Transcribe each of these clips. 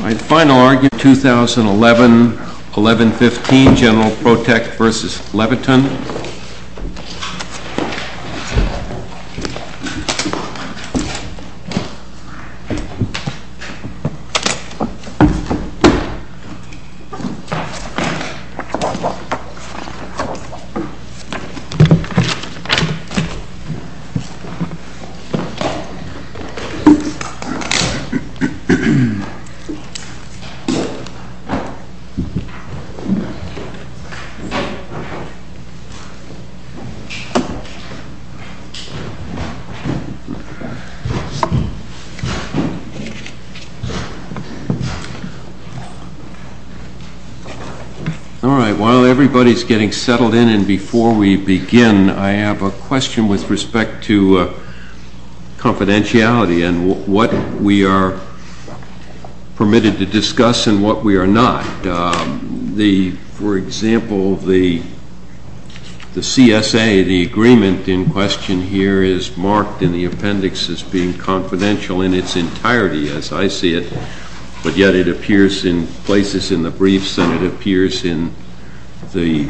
My final argument, 2011-11-15, General Protecht v. Leviton. While everybody is getting settled in and before we begin, I have a question with respect to confidentiality and what we are permitted to discuss and what we are not. For example, the CSA, the agreement in question here is marked in the appendix as being confidential in its entirety, as I see it, but yet it appears in places in the briefs and it appears in the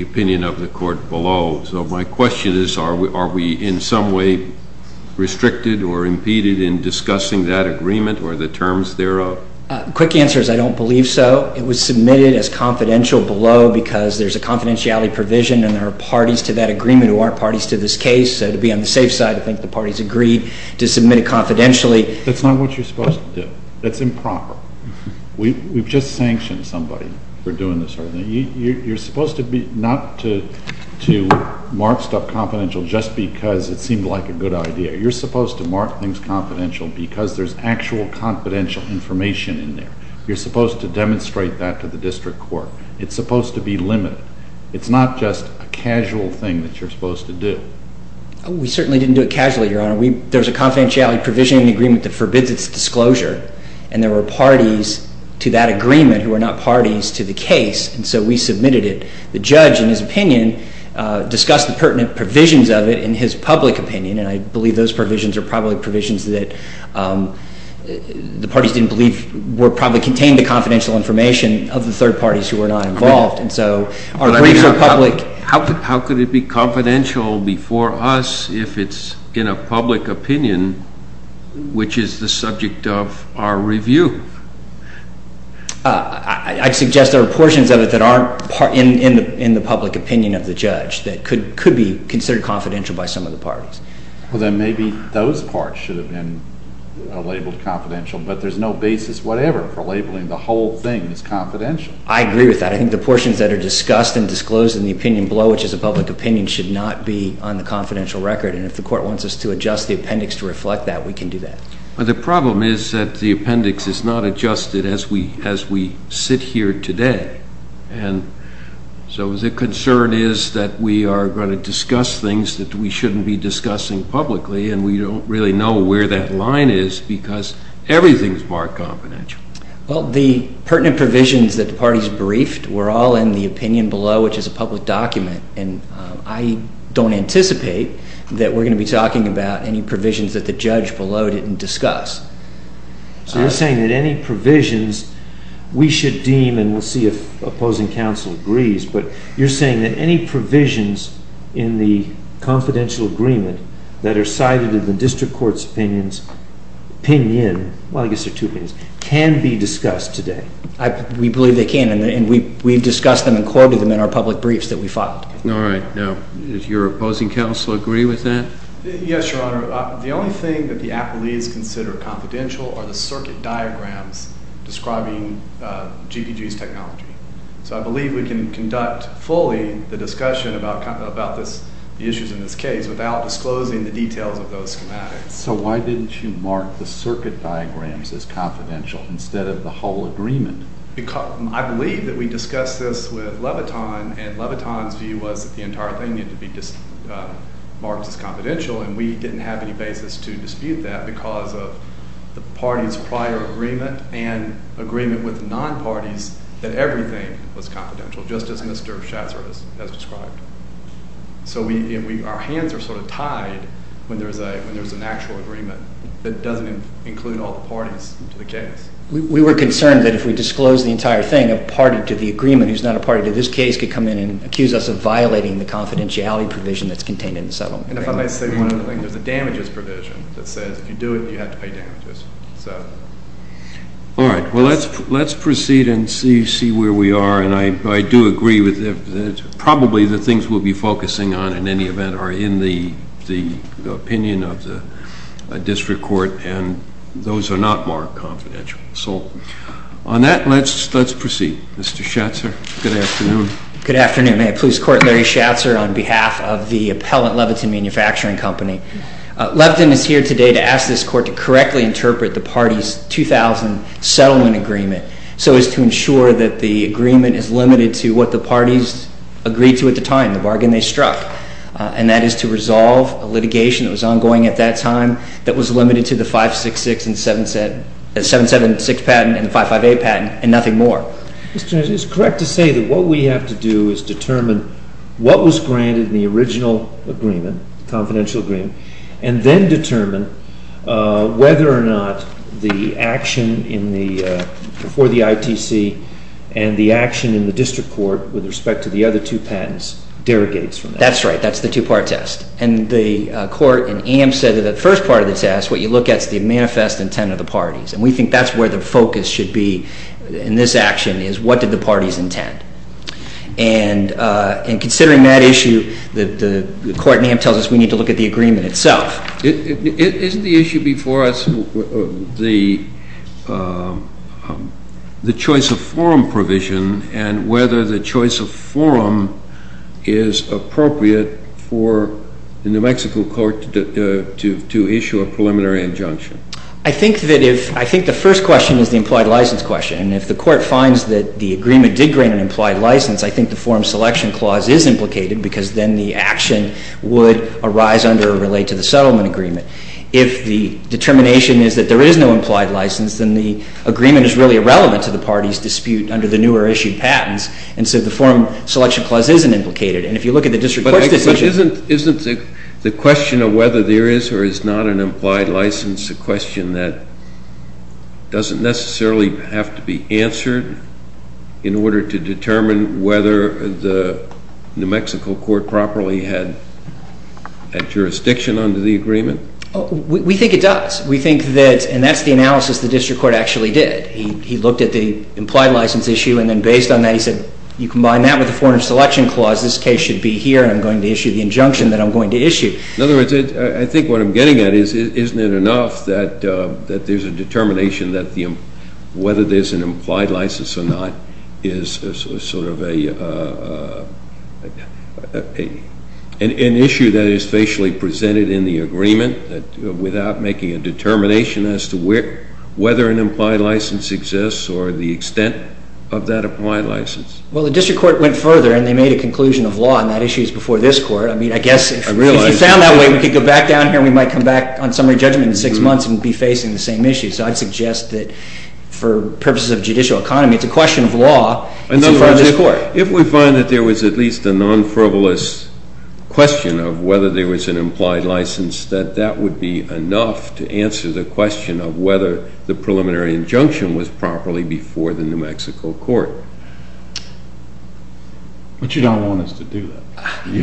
opinion of the court below. So my question is, are we in some way restricted or impeded in discussing that agreement or the terms thereof? MR. GENERAL PROTECHT v. GEN. LEVITON Quick answer is I don't believe so. It was submitted as confidential below because there is a confidentiality provision and there are parties to that agreement who aren't parties to this case. So to be on the safe side, I think the parties agreed to submit it confidentially. MR. GENERAL PROTECHT v. GEN. LEVITON That is not what you are supposed to do. That is improper. We have just sanctioned somebody for doing this sort of thing. You are supposed not to mark stuff confidential just because it seemed like a good idea. You are supposed to mark things confidential because there is actual confidential information in there. You are supposed to demonstrate that to the district court. It is supposed to be limited. It is not just a casual thing that you are supposed to do. MR. GENERAL PROTECHT v. GEN. LEVITON We certainly didn't do it casually, Your Honor. There is a confidentiality provision in the agreement that forbids its disclosure and there were parties to that agreement who are not parties to the case and so we submitted it. The judge, in his opinion, discussed the pertinent provisions of it in his public opinion and I believe those provisions are probably provisions that the parties didn't believe probably contained the confidential information of the third parties who were not involved. MR. GENERAL PROTECHT v. GEN. LEVITON How could it be confidential before us if it is in a public opinion which is the subject MR. GENERAL PROTECHT v. GEN. LEVITON I suggest there are portions of it that aren't in the public opinion of the judge that could MR. GENERAL PROTECHT v. GEN. LEVITON Well, then maybe those parts should have been labeled confidential, but there is no basis whatever for labeling the whole thing as confidential. MR. GENERAL PROTECHT v. GEN. LEVITON I agree with that. I think the portions that are discussed and disclosed in the opinion below, which is a public opinion, should not be on the confidential record and if the court wants us to adjust the appendix to reflect that, we can do that. MR. GENERAL PROTECHT v. GEN. LEVITON The problem is that the appendix is not adjusted as we sit here today and so the concern is that we are going to discuss things that we shouldn't be discussing publicly and we don't MR. GENERAL PROTECHT v. GEN. LEVITON Well, the pertinent provisions that the parties briefed were all in the opinion below, which is a public document, and I don't anticipate that we're going to be talking about any provisions that the judge below didn't discuss. MR. GENERAL PROTECHT v. GEN. LEVITON So you're saying that any provisions we should deem and we'll see if opposing counsel agrees, but you're saying that any provisions in the confidential agreement that are cited in the MR. GENERAL PROTECHT v. GEN. LEVITON We believe they can and we've discussed them and quoted them in our public briefs that MR. GENERAL PROTECHT v. GEN. LEVITON All right. MR. GENERAL PROTECHT v. GEN. LEVITON Yes, Your Honor. The only thing that the appelees consider confidential are the circuit diagrams describing GPG's technology. So I believe we can conduct fully the discussion about this, the issues in this case, without MR. GENERAL PROTECHT v. GEN. LEVITON So why didn't you mark the circuit diagrams as confidential instead of the whole agreement? MR. GENERAL PROTECHT v. GEN. LEVITON I believe that we discussed this with Leviton and Leviton's view was that the entire thing needed to be marked as confidential and we didn't have any basis to dispute that because of the party's prior agreement and agreement with non-parties that everything was confidential, just as Mr. Schatzer has described. So our hands are sort of tied when there's an actual agreement that doesn't include all the parties to the case. MR. GENERAL PROTECHT v. GEN. LEVITON We were concerned that if we disclosed the entire thing, a party to the agreement who's not a party to this case could come in and accuse us of violating the confidentiality MR. GENERAL PROTECHT v. GEN. LEVITON And if I may say one other thing, there's a damages provision that says if you do it, you have to pay damages. MR. GENERAL PROTECHT v. GEN. LEVITON All right. Well, let's proceed and see where we are and I do agree that probably the things we'll be focusing on in any event are in the opinion of the district court and those are not marked confidential. So on that, let's proceed. Mr. Schatzer, good afternoon. MR. GENERAL PROTECHT v. GEN. LEVITON Good afternoon. Police Court Larry Schatzer on behalf of the appellant Leviton Manufacturing Company. Leviton is here today to ask this court to correctly interpret the party's 2000 settlement agreement so as to ensure that the agreement is limited to what the parties agreed to at the time, the bargain they struck, and that is to resolve a litigation that was ongoing at that time that was limited to the 566 and 776 patent and the 558 patent and nothing MR. GENERAL PROTECH v. GEN. LEVITON It's correct to say that what we have to do is determine what was granted in the original agreement, confidential agreement, and then determine whether or not the action for the ITC and the action in the district court with respect to the other two patents derogates MR. GENERAL PROTECH v. GEN. LEVITON That's right. That's the two-part test. And the court in Ames said that the first part of the test, what you look at is the manifest intent of the parties and we think that's where the focus should be in this action is what did the parties intend. And considering that issue, the court in Ames tells us we need to look at the agreement JUSTICE SCALIA Isn't the issue before us the choice of forum provision and whether the choice of forum is appropriate for the New Mexico court to MR. GENERAL PROTECH v. GEN. LEVITON I think the first question is the employed license question. And if the court finds that the agreement did grant an implied license, I think the forum selection clause is implicated because then the action would arise under or relate to the settlement agreement. If the determination is that there is no implied license, then the agreement is really irrelevant to the parties' dispute under the newer issued patents. And so the forum selection clause isn't implicated. And if you look at the district court's decision JUSTICE SCALIA But isn't the question of whether there is or is not an implied license a question that doesn't necessarily have to be answered in order to determine whether the New Mexico court properly had jurisdiction under the MR. GENERAL PROTECH v. GEN. LEVITON We think it does. We think that and that's the analysis the district court actually did. He looked at the implied license issue and then based on that he said you combine that with the forum selection clause, this case should be here and I'm going to issue the injunction that I'm going to issue. JUSTICE BREYER In other words, I think what I'm getting at is isn't it enough that there's a determination that whether there's an implied license or not is sort of an issue that is facially presented in the agreement without making a determination as to whether an implied license exists or the extent of that implied license. MR. GENERAL PROTECH v. GEN. LEVITON Well, the district court went further and they made a conclusion of law and that issue is before this court. I mean, I guess if it's found that way, we could go back down here and we might come back on summary judgment in six months and be facing the same issue. So I'd suggest that for purposes of judicial economy, it's a question of law. It's in front of this court. JUSTICE BREYER In other words, if we find that there was at least a non-frivolous question of whether there was an implied license, that that would be enough to answer the question of whether the preliminary injunction was properly before the New Mexico court. MR. GEN. LEVITON But you don't want us to do that. You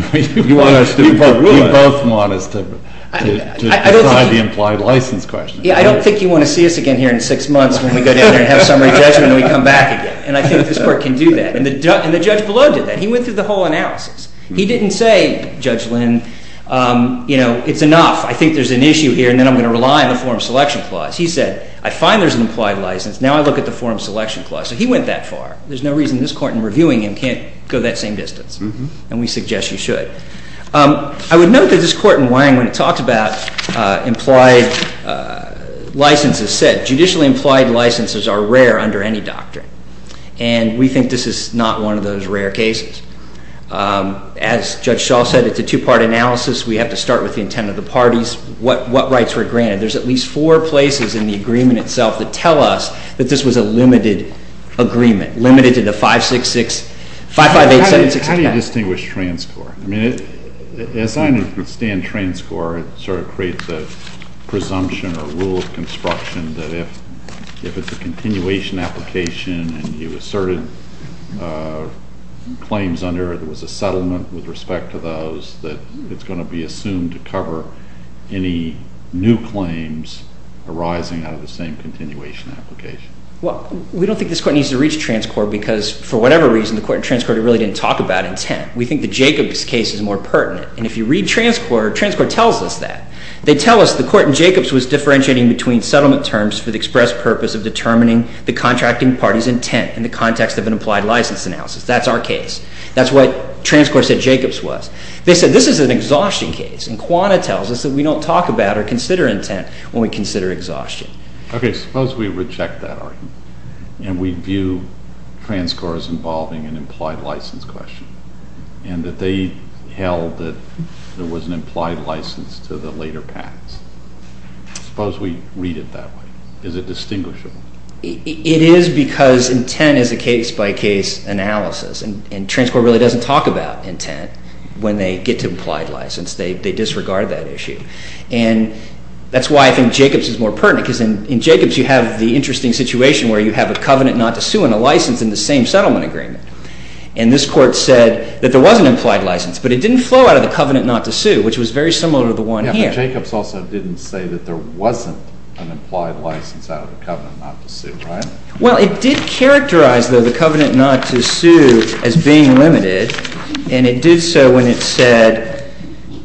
want us to. You both want us to try the implied license question. MR. GEN. LEVITON I don't think you want to see us again here in six months when we go down here and have summary judgment and we come back again. And I think this court can do that. And the judge below did that. He went through the whole analysis. He didn't say, Judge Lynn, you know, it's enough. I think there's an issue here and then I'm going to rely on the Forum Selection Clause. He said, I find there's an implied license. Now I look at the Forum Selection Clause. There's no reason this Court in reviewing him can't do that. I think it's enough. MR. GEN. LEVITON And we suggest you should. I would note that this court in Wang, when it talks about implied licenses, said, judicially implied licenses are rare under any doctrine. And we think this is not one of those rare cases. As Judge Shaw said, it's a two-part analysis. We have to start with the intent of the parties, what rights were granted. There's at least four places in the agreement itself that tell us that this was a limited agreement. Limited to the 5-6-6, 5-5-8-7-6-9. GEN. LEVITON How do you distinguish transcor? I mean, as I understand transcor, it sort of creates a presumption or rule of construction that if it's a continuation application and you asserted claims under, there was a settlement with respect to those, that it's going to be assumed to cover any new claims arising out of the same continuation application. MR. GOLDSMITH We don't talk about transcor because, for whatever reason, the court in transcor really didn't talk about intent. We think the Jacobs case is more pertinent. And if you read transcor, transcor tells us that. They tell us the court in Jacobs was differentiating between settlement terms for the express purpose of determining the contracting party's intent in the context of an implied license analysis. That's our case. That's what transcor said Jacobs was. They said, this is an exhaustion case. And Quanah tells us that we don't talk about or consider intent when we consider exhaustion. GEN. GILLESPIE And that they held that there was an implied license to the later patents. I suppose we read it that way. Is it distinguishable? MR. GOLDSMITH It is because intent is a case-by-case analysis, and transcor really doesn't talk about intent when they get to implied license. They disregard that issue. And that's why I think Jacobs is more pertinent, because in Jacobs you have the interesting situation where you have a covenant not to sue and a license in the same settlement agreement. And this court said that there was an implied license, but it didn't flow out of the covenant not to sue, which was very similar to the one here. GEN. GILLESPIE Yeah, but Jacobs also didn't say that there wasn't an implied license out of the covenant not to sue, right? MR. GOLDSMITH Well, it did characterize, though, the covenant not to sue as being limited. And it did so when it said,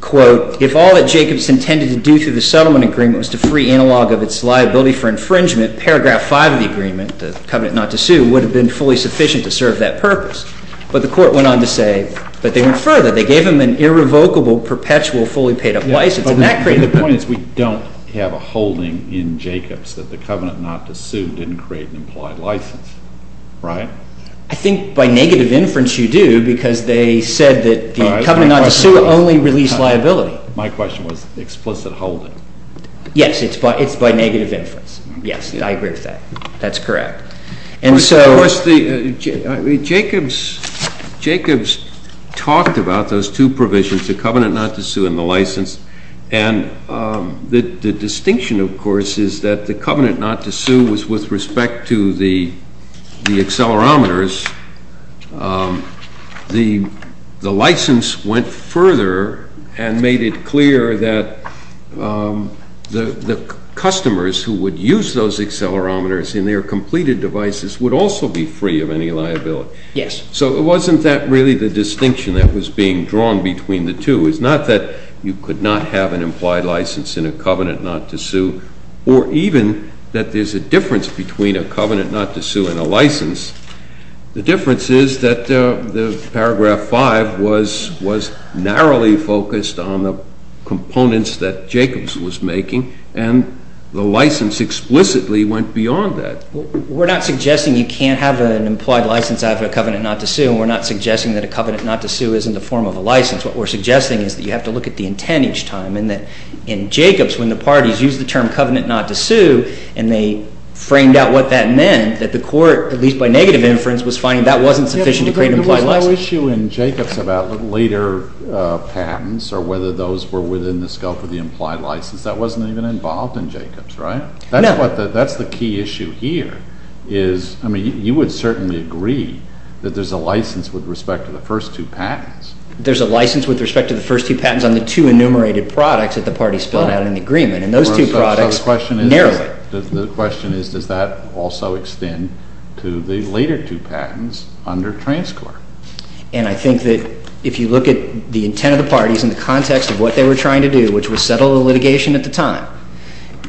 quote, if all that Jacobs intended to do through the settlement agreement was to free analog of its liability for infringement, paragraph 5 of the agreement, the covenant not to sue, would have been fully sufficient to serve that purpose. But the court went on to say that they went further. They gave him an irrevocable, perpetual, fully paid-up license. And that created the— GEN. GILLESPIE But the point is we don't have a holding in Jacobs that the covenant not to sue didn't create an implied license, right? MR. GOLDSMITH I think by negative inference you do, because they said that the covenant not to sue only released liability. GEN. GILLESPIE My question was explicit holding. GOLDSMITH Yes, it's by negative inference. Yes, I agree with that. And so— GEN. GILLESPIE Of course, Jacobs talked about those two provisions, the covenant not to sue and the license. And the distinction, of course, is that the covenant not to sue was with respect to the accelerometers. The license went further and made it clear that the customers who would use those accelerometers in their completed devices would also be free of any liability. Yes. GEN. GILLESPIE So wasn't that really the distinction that was being drawn between the two? It's not that you could not have an implied license in a covenant not to sue, or even that there's a difference between a covenant not to sue and a license. The difference is that the paragraph 5 was narrowly focused on the components that Jacobs was making, and the license explicitly went beyond that. GOLDSMITH We're not suggesting you can't have an implied license out of a covenant not to sue, and we're not suggesting that a covenant not to sue isn't a form of a license. What we're suggesting is that you have to look at the intent each time, and that in the parties used the term covenant not to sue, and they framed out what that meant, that the court, at least by negative inference, was finding that wasn't sufficient to create GEN. GILLESPIE There was no issue in Jacobs about later patents or whether those were within the scope of the implied license. That wasn't even involved in Jacobs, right? GOLDSMITH No. GEN. GILLESPIE That's the key issue here is, I mean, you would certainly agree that there's a license with respect to the first two patents. GOLDSMITH There's a license with respect to the first two patents on the two enumerated products that the parties filled out in the agreement, and those two products narrowed it. GILLESPIE So the question is, does that also extend to the later two patents under TransCorp? GOLDSMITH And I think that if you look at the intent of the parties and the context of what they were trying to do, which was settle the litigation at the time,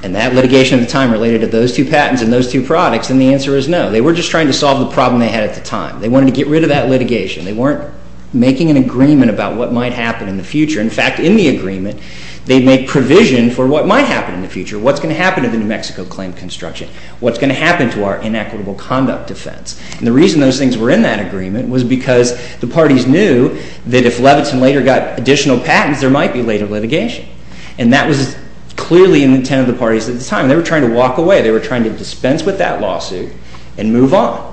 and that litigation at the time related to those two patents and those two products, then the answer is no. They were just trying to solve the problem they had at the time. They wanted to get rid of that litigation. They weren't making an agreement about what might happen in the future. In fact, in the agreement, they made provision for what might happen in the future, what's going to happen to the New Mexico claim construction, what's going to happen to our inequitable conduct defense. And the reason those things were in that agreement was because the parties knew that if Levinson later got additional patents, there might be later litigation. And that was clearly in the intent of the parties at the time. They were trying to walk away. They were trying to dispense with that lawsuit and move on.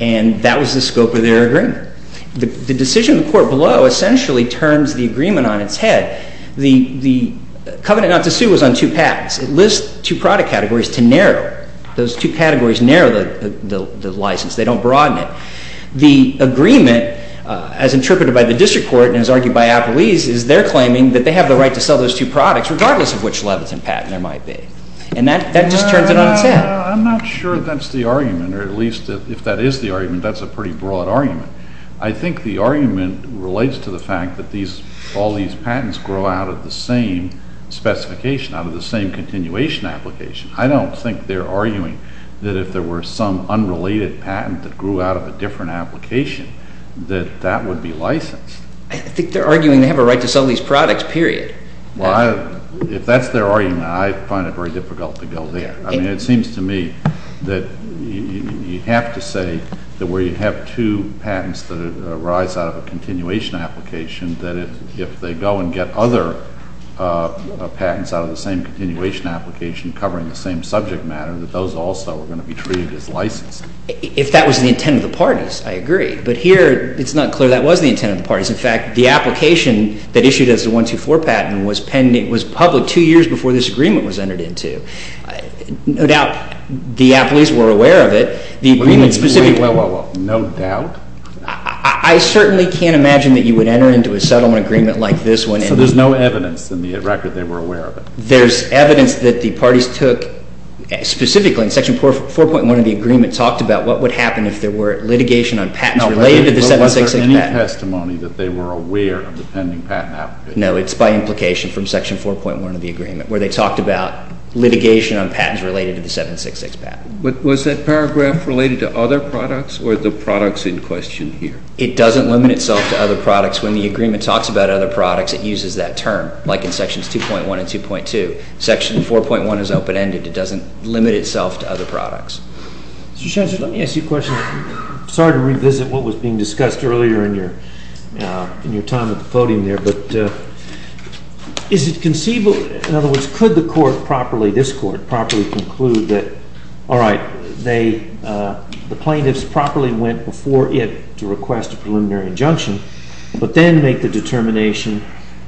And that was the scope of their agreement. The decision in the court below essentially turns the agreement on its head. The covenant not to sue was on two patents. It lists two product categories to narrow. Those two categories narrow the license. They don't broaden it. The agreement, as interpreted by the district court and as argued by Appleese, is they're claiming that they have the right to sell those two products regardless of which Levinson patent there might be. And that just turns it on its head. I'm not sure that's the argument, or at least if that is the argument, that's a pretty broad argument. I think the argument relates to the fact that all these patents grow out of the same specification, out of the same continuation application. I don't think they're arguing that if there were some unrelated patent that grew out of a different application, that that would be licensed. I think they're arguing they have a right to sell these products, period. Well, if that's their argument, I find it very difficult to go there. I mean, it seems to me that you have to say that where you have two patents that arise out of a continuation application, that if they go and get other patents out of the same continuation application covering the same subject matter, that those also are going to be treated as licensed. If that was the intent of the parties, I agree. But here, it's not clear that was the intent of the parties. In fact, the application that issued as the 124 patent was public two years before this agreement was entered into. No doubt, the appellees were aware of it. The agreement specifically... Wait, wait, wait. No doubt? I certainly can't imagine that you would enter into a settlement agreement like this one. So there's no evidence in the record they were aware of it? There's evidence that the parties took specifically in Section 4.1 of the agreement talked about what would happen if there were litigation on patents related to the 766 patent. But was there any testimony that they were aware of the pending patent application? No, it's by implication from Section 4.1 of the agreement where they talked about litigation on patents related to the 766 patent. But was that paragraph related to other products or the products in question here? It doesn't limit itself to other products. When the agreement talks about other products, it uses that term, like in Sections 2.1 and 2.2. Section 4.1 is open-ended. It doesn't limit itself to other products. Mr. Shancher, let me ask you a question. Sorry to revisit what was being discussed earlier in your time at the podium there, but is it conceivable, in other words, could the court properly, this court, properly conclude that, all right, the plaintiffs properly went before it to request a preliminary injunction, but then make the determination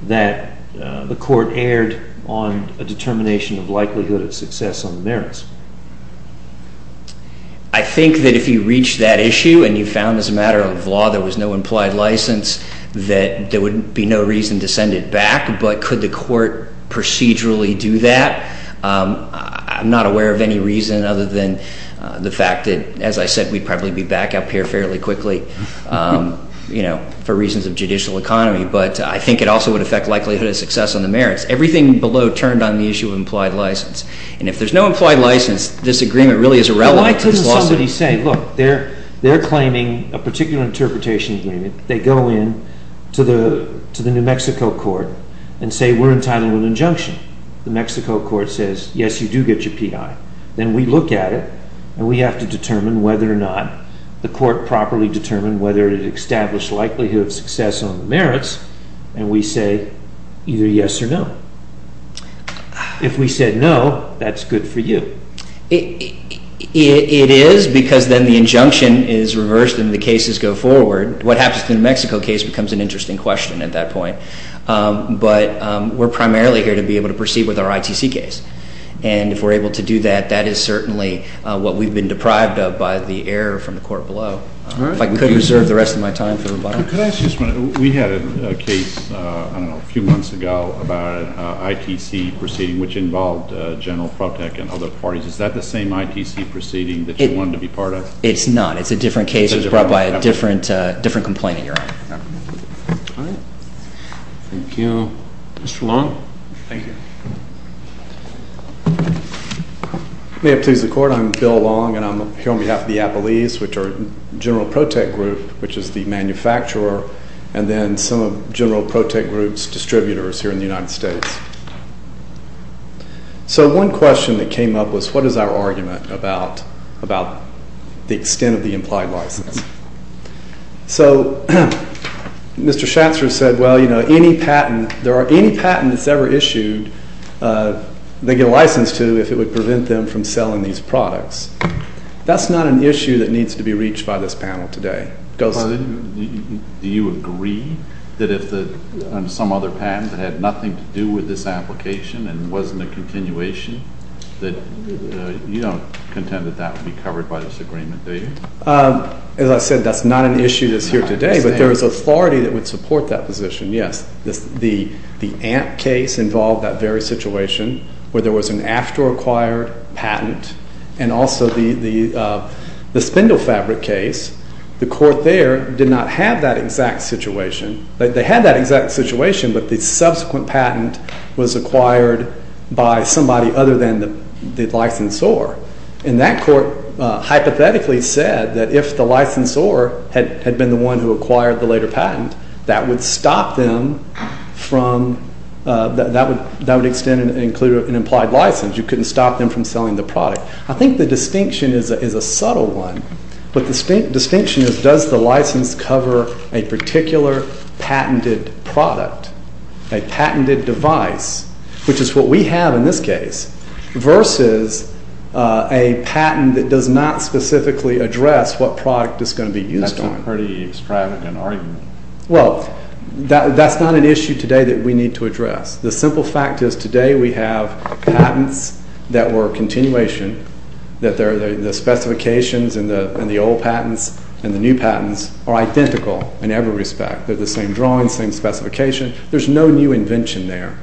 that the court erred on a determination of likelihood of success on the merits? I think that if you reach that issue and you found as a matter of law there was no implied license, that there would be no reason to send it back. But could the court procedurally do that? I'm not aware of any reason other than the fact that, as I said, we'd probably be back up here fairly quickly, you know, for reasons of judicial economy. But I think it also would affect likelihood of success on the merits. Everything below turned on the issue of implied license. And if there's no implied license, this agreement really is irrelevant to this lawsuit. Why couldn't somebody say, look, they're claiming a particular interpretation agreement. They go in to the New Mexico court and say, we're entitled to an injunction. The Mexico court says, yes, you do get your P.I. Then we look at it, and we have to determine whether or not the court properly determined whether it established likelihood of success on the merits, and we say either yes or no. If we said no, that's good for you. It is, because then the injunction is reversed and the cases go forward. What happens to the New Mexico case becomes an interesting question at that point. But we're primarily here to be able to proceed with our ITC case. And if we're able to do that, that is certainly what we've been deprived of by the error from the court below. If I could reserve the rest of my time for rebuttal. Could I ask you a minute? We had a case, I don't know, a few months ago about an ITC proceeding, which involved General Protech and other parties. Is that the same ITC proceeding that you wanted to be part of? It's not. It's a different case. It was brought by a different complaint that you're on. All right. Thank you. Mr. Long. Thank you. May it please the Court. I'm Bill Long, and I'm here on behalf of the Appellees, which are General Protech Group, which is the manufacturer, and then some of General Protech Group's distributors here in the United States. So one question that came up was, what is our argument about the extent of the implied license? So Mr. Shatzer said, well, you know, any patent, there are any patents ever issued they get a license to if it would prevent them from selling these products. That's not an issue that needs to be reached by this panel today. Do you agree that if some other patent that had nothing to do with this application and wasn't a continuation, that you don't contend that that would be covered by this agreement, do you? As I said, that's not an issue that's here today, but there is authority that would support that position, yes. The AMP case involved that very situation where there was an after-acquired patent, and also the spindle fabric case. The court there did not have that exact situation. They had that exact situation, but the subsequent patent was acquired by somebody other than the licensor. And that court hypothetically said that if the licensor had been the one who acquired the later patent, that would stop them from, that would extend and include an implied license. You couldn't stop them from selling the product. I think the distinction is a subtle one, but the distinction is does the license cover a particular patented product, a patented device, which is what we have in this case, versus a patent that does not specifically address what product it's going to be used on. That's a pretty extravagant argument. Well, that's not an issue today that we need to address. The simple fact is today we have patents that were a continuation, that the specifications in the old patents and the new patents are identical in every respect. They're the same drawing, same specification. There's no new invention there.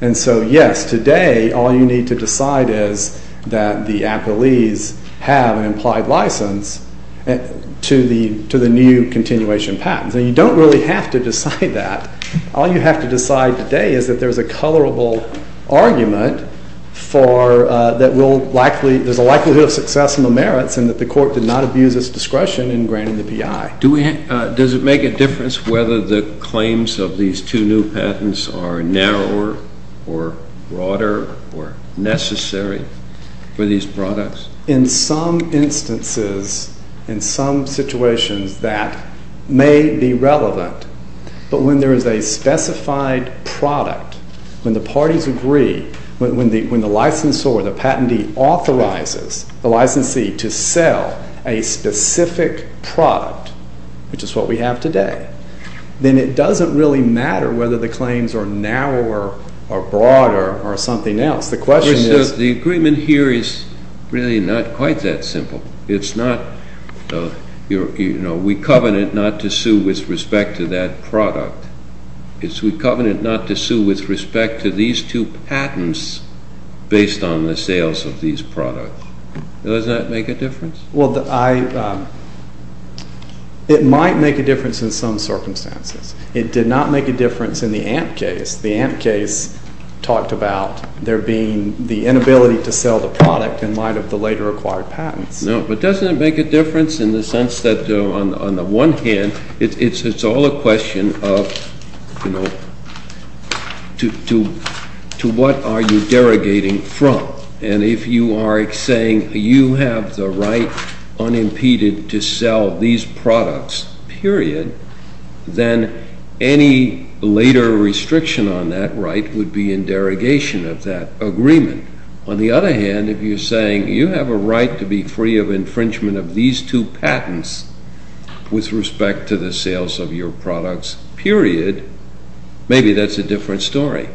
And so, yes, today all you need to decide is that the appellees have an implied license to the new continuation patents. And you don't really have to decide that. All you have to decide today is that there's a colorable argument that there's a likelihood of success in the merits and that the court did not abuse its discretion in granting the PI. Does it make a difference whether the claims of these two new patents are narrower or broader or necessary for these products? In some instances, in some situations, that may be relevant. But when there is a specified product, when the parties agree, when the licensor or the patentee authorizes the licensee to sell a specific product, which is what we have today, then it doesn't really matter whether the claims are narrower or broader or something else. The question is— The agreement here is really not quite that simple. It's not, you know, we covenant not to sue with respect to that product. It's we covenant not to sue with respect to these two patents based on the sales of these products. Does that make a difference? Well, I—it might make a difference in some circumstances. It did not make a difference in the Amp case. The Amp case talked about there being the inability to sell the product in light of the later acquired patents. No, but doesn't it make a difference in the sense that on the one hand, it's all a question of, you know, to what are you derogating from? And if you are saying you have the right unimpeded to sell these products, period, then any later restriction on that right would be in derogation of that agreement. On the other hand, if you're saying you have a right to be free of infringement of these two patents with respect to the sales of your products, period, maybe that's a different story.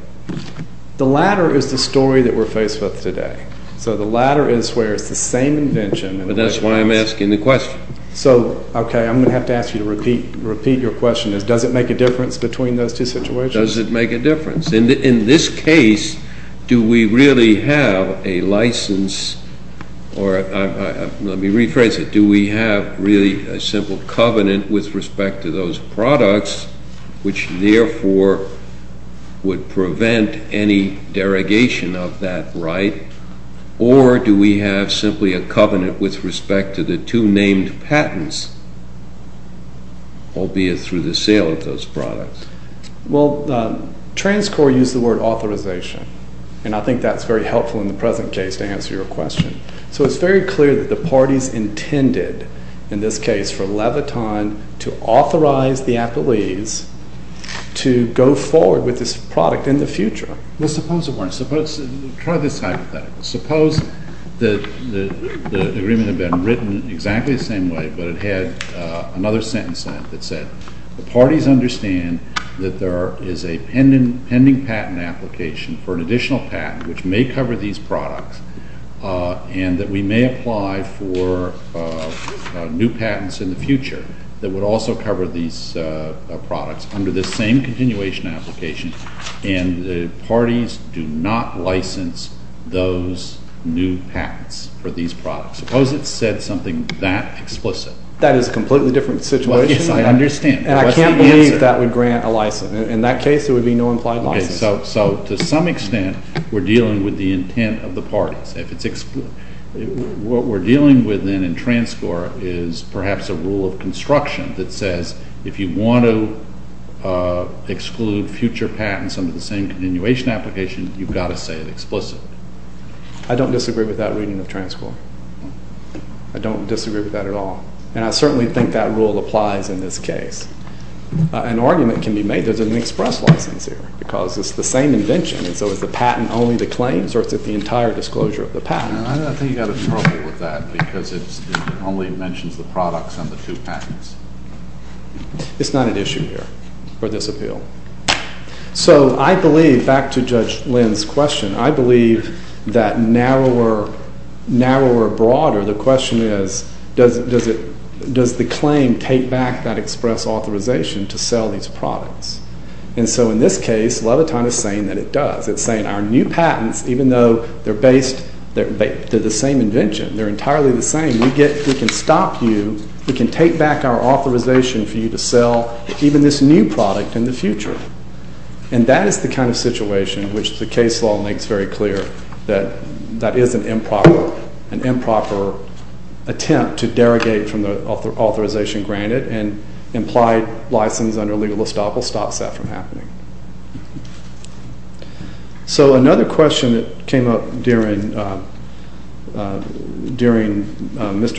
The latter is the story that we're faced with today. So the latter is where it's the same invention— But that's why I'm asking the question. So, okay, I'm going to have to ask you to repeat your question. Does it make a difference between those two situations? Does it make a difference? In this case, do we really have a license, or let me rephrase it, do we have really a simple covenant with respect to those products, which therefore would prevent any derogation of that right, or do we have simply a covenant with respect to the two named patents, albeit through the sale of those products? Well, TransCorp used the word authorization, and I think that's very helpful in the present case to answer your question. So it's very clear that the parties intended, in this case, for Leviton to authorize the athletes to go forward with this product in the future. Well, suppose it weren't. Try this hypothetical. Suppose the agreement had been written exactly the same way, but it had another sentence on it that said, the parties understand that there is a pending patent application for an additional patent which may cover these products, and that we may apply for new patents in the future that would also cover these products under this same continuation application, and the parties do not license those new patents for these products. Suppose it said something that explicit. That is a completely different situation. Yes, I understand. And I can't believe that would grant a license. In that case, there would be no implied license. So to some extent, we're dealing with the intent of the parties. What we're dealing with then in TransCorp is perhaps a rule of construction that says, if you want to exclude future patents under the same continuation application, you've got to say it explicitly. I don't disagree with that reading of TransCorp. I don't disagree with that at all, and I certainly think that rule applies in this case. An argument can be made that there's an express license here because it's the same invention, and so is the patent only the claims or is it the entire disclosure of the patent? I think you've got to struggle with that because it only mentions the products and the two patents. It's not an issue here for this appeal. So I believe, back to Judge Lynn's question, I believe that narrower or broader, the question is, does the claim take back that express authorization to sell these products? And so in this case, Leviton is saying that it does. It's saying our new patents, even though they're the same invention, they're entirely the same, we can stop you, we can take back our authorization for you to sell even this new product in the future. And that is the kind of situation which the case law makes very clear that that is an improper attempt to derogate from the authorization granted, and implied license under legal estoppel stops that from happening. So another question that came up during Mr.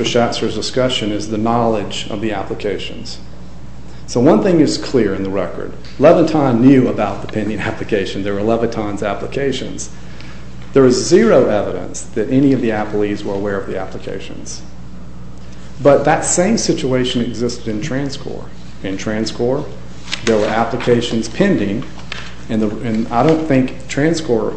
Schatzer's discussion is the knowledge of the applications. So one thing is clear in the record. Leviton knew about the pending application. There were Leviton's applications. There is zero evidence that any of the appellees were aware of the applications. But that same situation existed in Transcor. In Transcor, there were applications pending, and I don't think Transcor,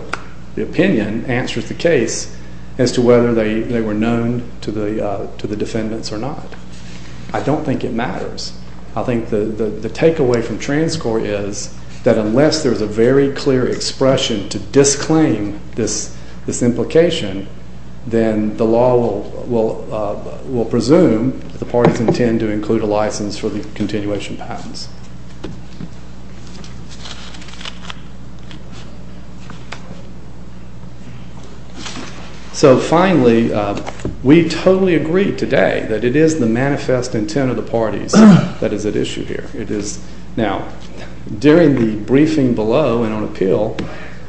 the opinion, answers the case as to whether they were known to the defendants or not. I don't think it matters. I think the takeaway from Transcor is that unless there's a very clear expression to disclaim this implication, then the law will presume the parties intend to include a license for the continuation patents. So finally, we totally agree today that it is the manifest intent of the parties that is at issue here. Now, during the briefing below and on appeal,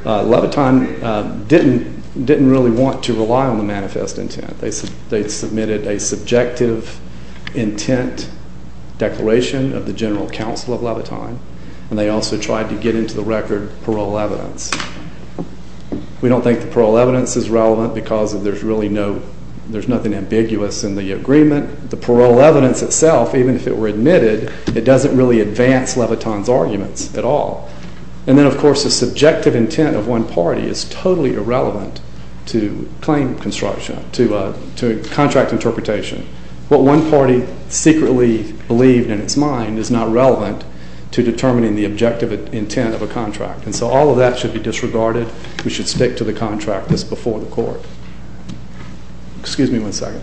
Leviton didn't really want to rely on the manifest intent. They submitted a subjective intent declaration of the general counsel of Leviton, and they also tried to get into the record parole evidence. We don't think the parole evidence is relevant because there's nothing ambiguous in the agreement. The parole evidence itself, even if it were admitted, it doesn't really advance Leviton's arguments at all. And then, of course, the subjective intent of one party is totally irrelevant to claim construction, to contract interpretation. What one party secretly believed in its mind is not relevant to determining the objective intent of a contract. And so all of that should be disregarded. We should stick to the contract that's before the court. Excuse me one second.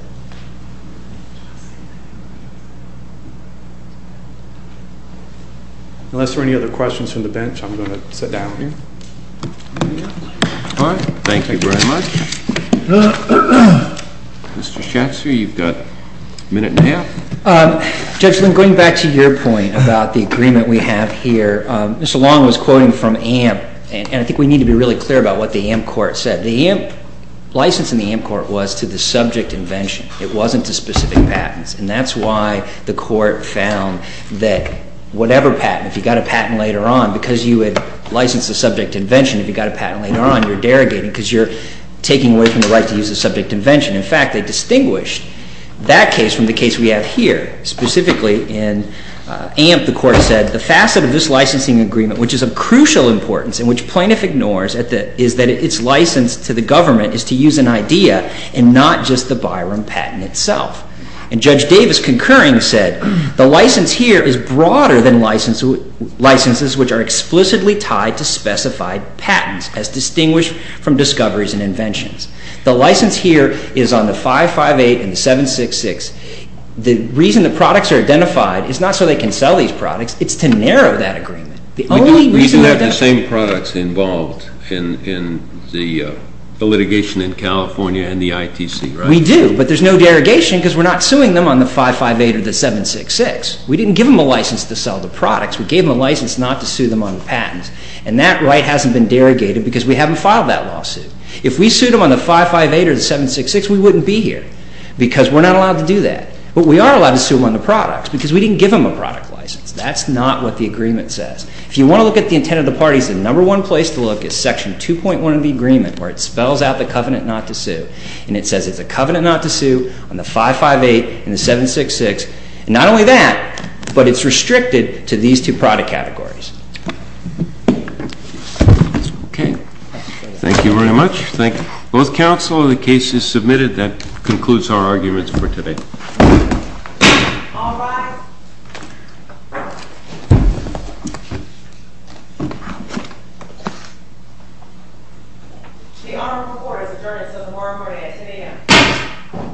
Unless there are any other questions from the bench, I'm going to sit down here. All right. Thank you very much. Mr. Schatzer, you've got a minute and a half. Judge Lind, going back to your point about the agreement we have here, Mr. Long was quoting from AMP, and I think we need to be really clear about what the AMP court said. The license in the AMP court was to the subject invention. It wasn't to specific patents. And that's why the court found that whatever patent, if you got a patent later on, because you had licensed a subject invention, if you got a patent later on, you're derogating because you're taking away from the right to use a subject invention. In fact, they distinguished that case from the case we have here. Specifically in AMP, the court said the facet of this licensing agreement, which is of crucial importance and which plaintiff ignores, is that its license to the government is to use an idea and not just the Byram patent itself. And Judge Davis concurring said the license here is broader than licenses which are explicitly tied to specified patents as distinguished from discoveries and inventions. The license here is on the 558 and 766. The reason the products are identified is not so they can sell these products. It's to narrow that agreement. The only reason they're done. You have the same products involved in the litigation in California and the ITC, right? We do, but there's no derogation because we're not suing them on the 558 or the 766. We didn't give them a license to sell the products. We gave them a license not to sue them on the patents. And that right hasn't been derogated because we haven't filed that lawsuit. If we sued them on the 558 or the 766, we wouldn't be here because we're not allowed to do that. But we are allowed to sue them on the products because we didn't give them a product license. That's not what the agreement says. If you want to look at the intent of the parties, the number one place to look is Section 2.1 of the agreement where it spells out the covenant not to sue. And it says it's a covenant not to sue on the 558 and the 766. And not only that, but it's restricted to these two product categories. Okay. Thank you very much. Both counsel, the case is submitted. That concludes our arguments for today. All rise. The honorable court has adjourned until tomorrow morning at 10 a.m.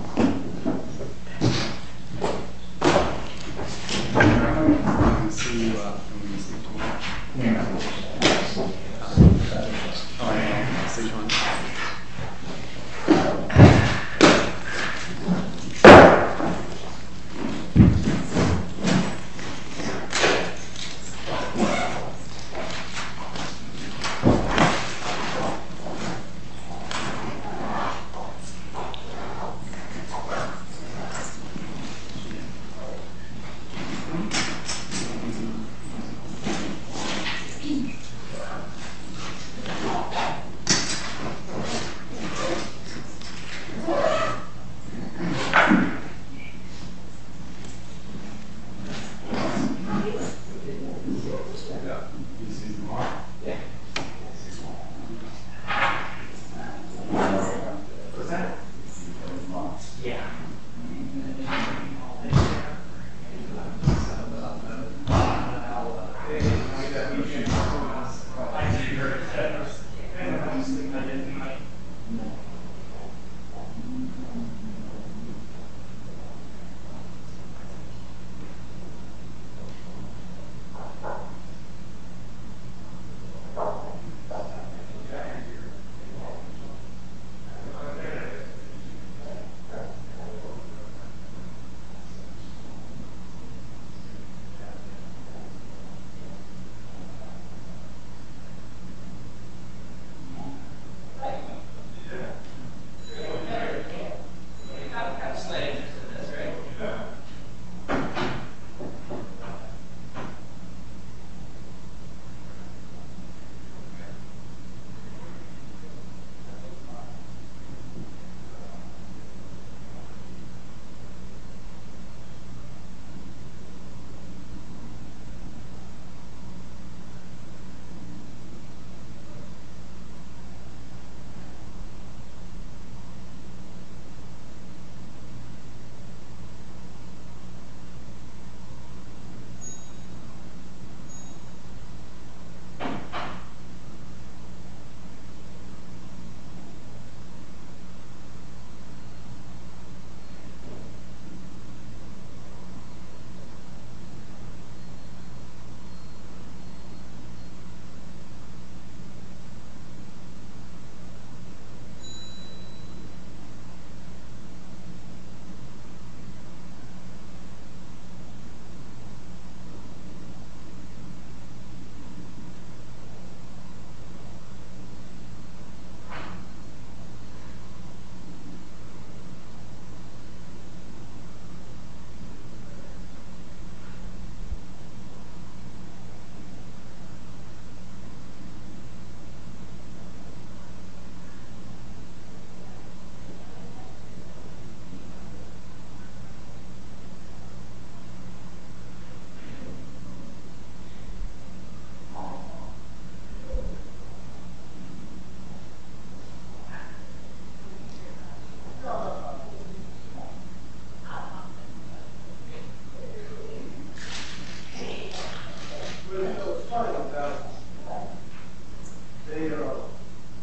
Thank you. Thank you. Thank you. Thank you. Thank you. Thank you.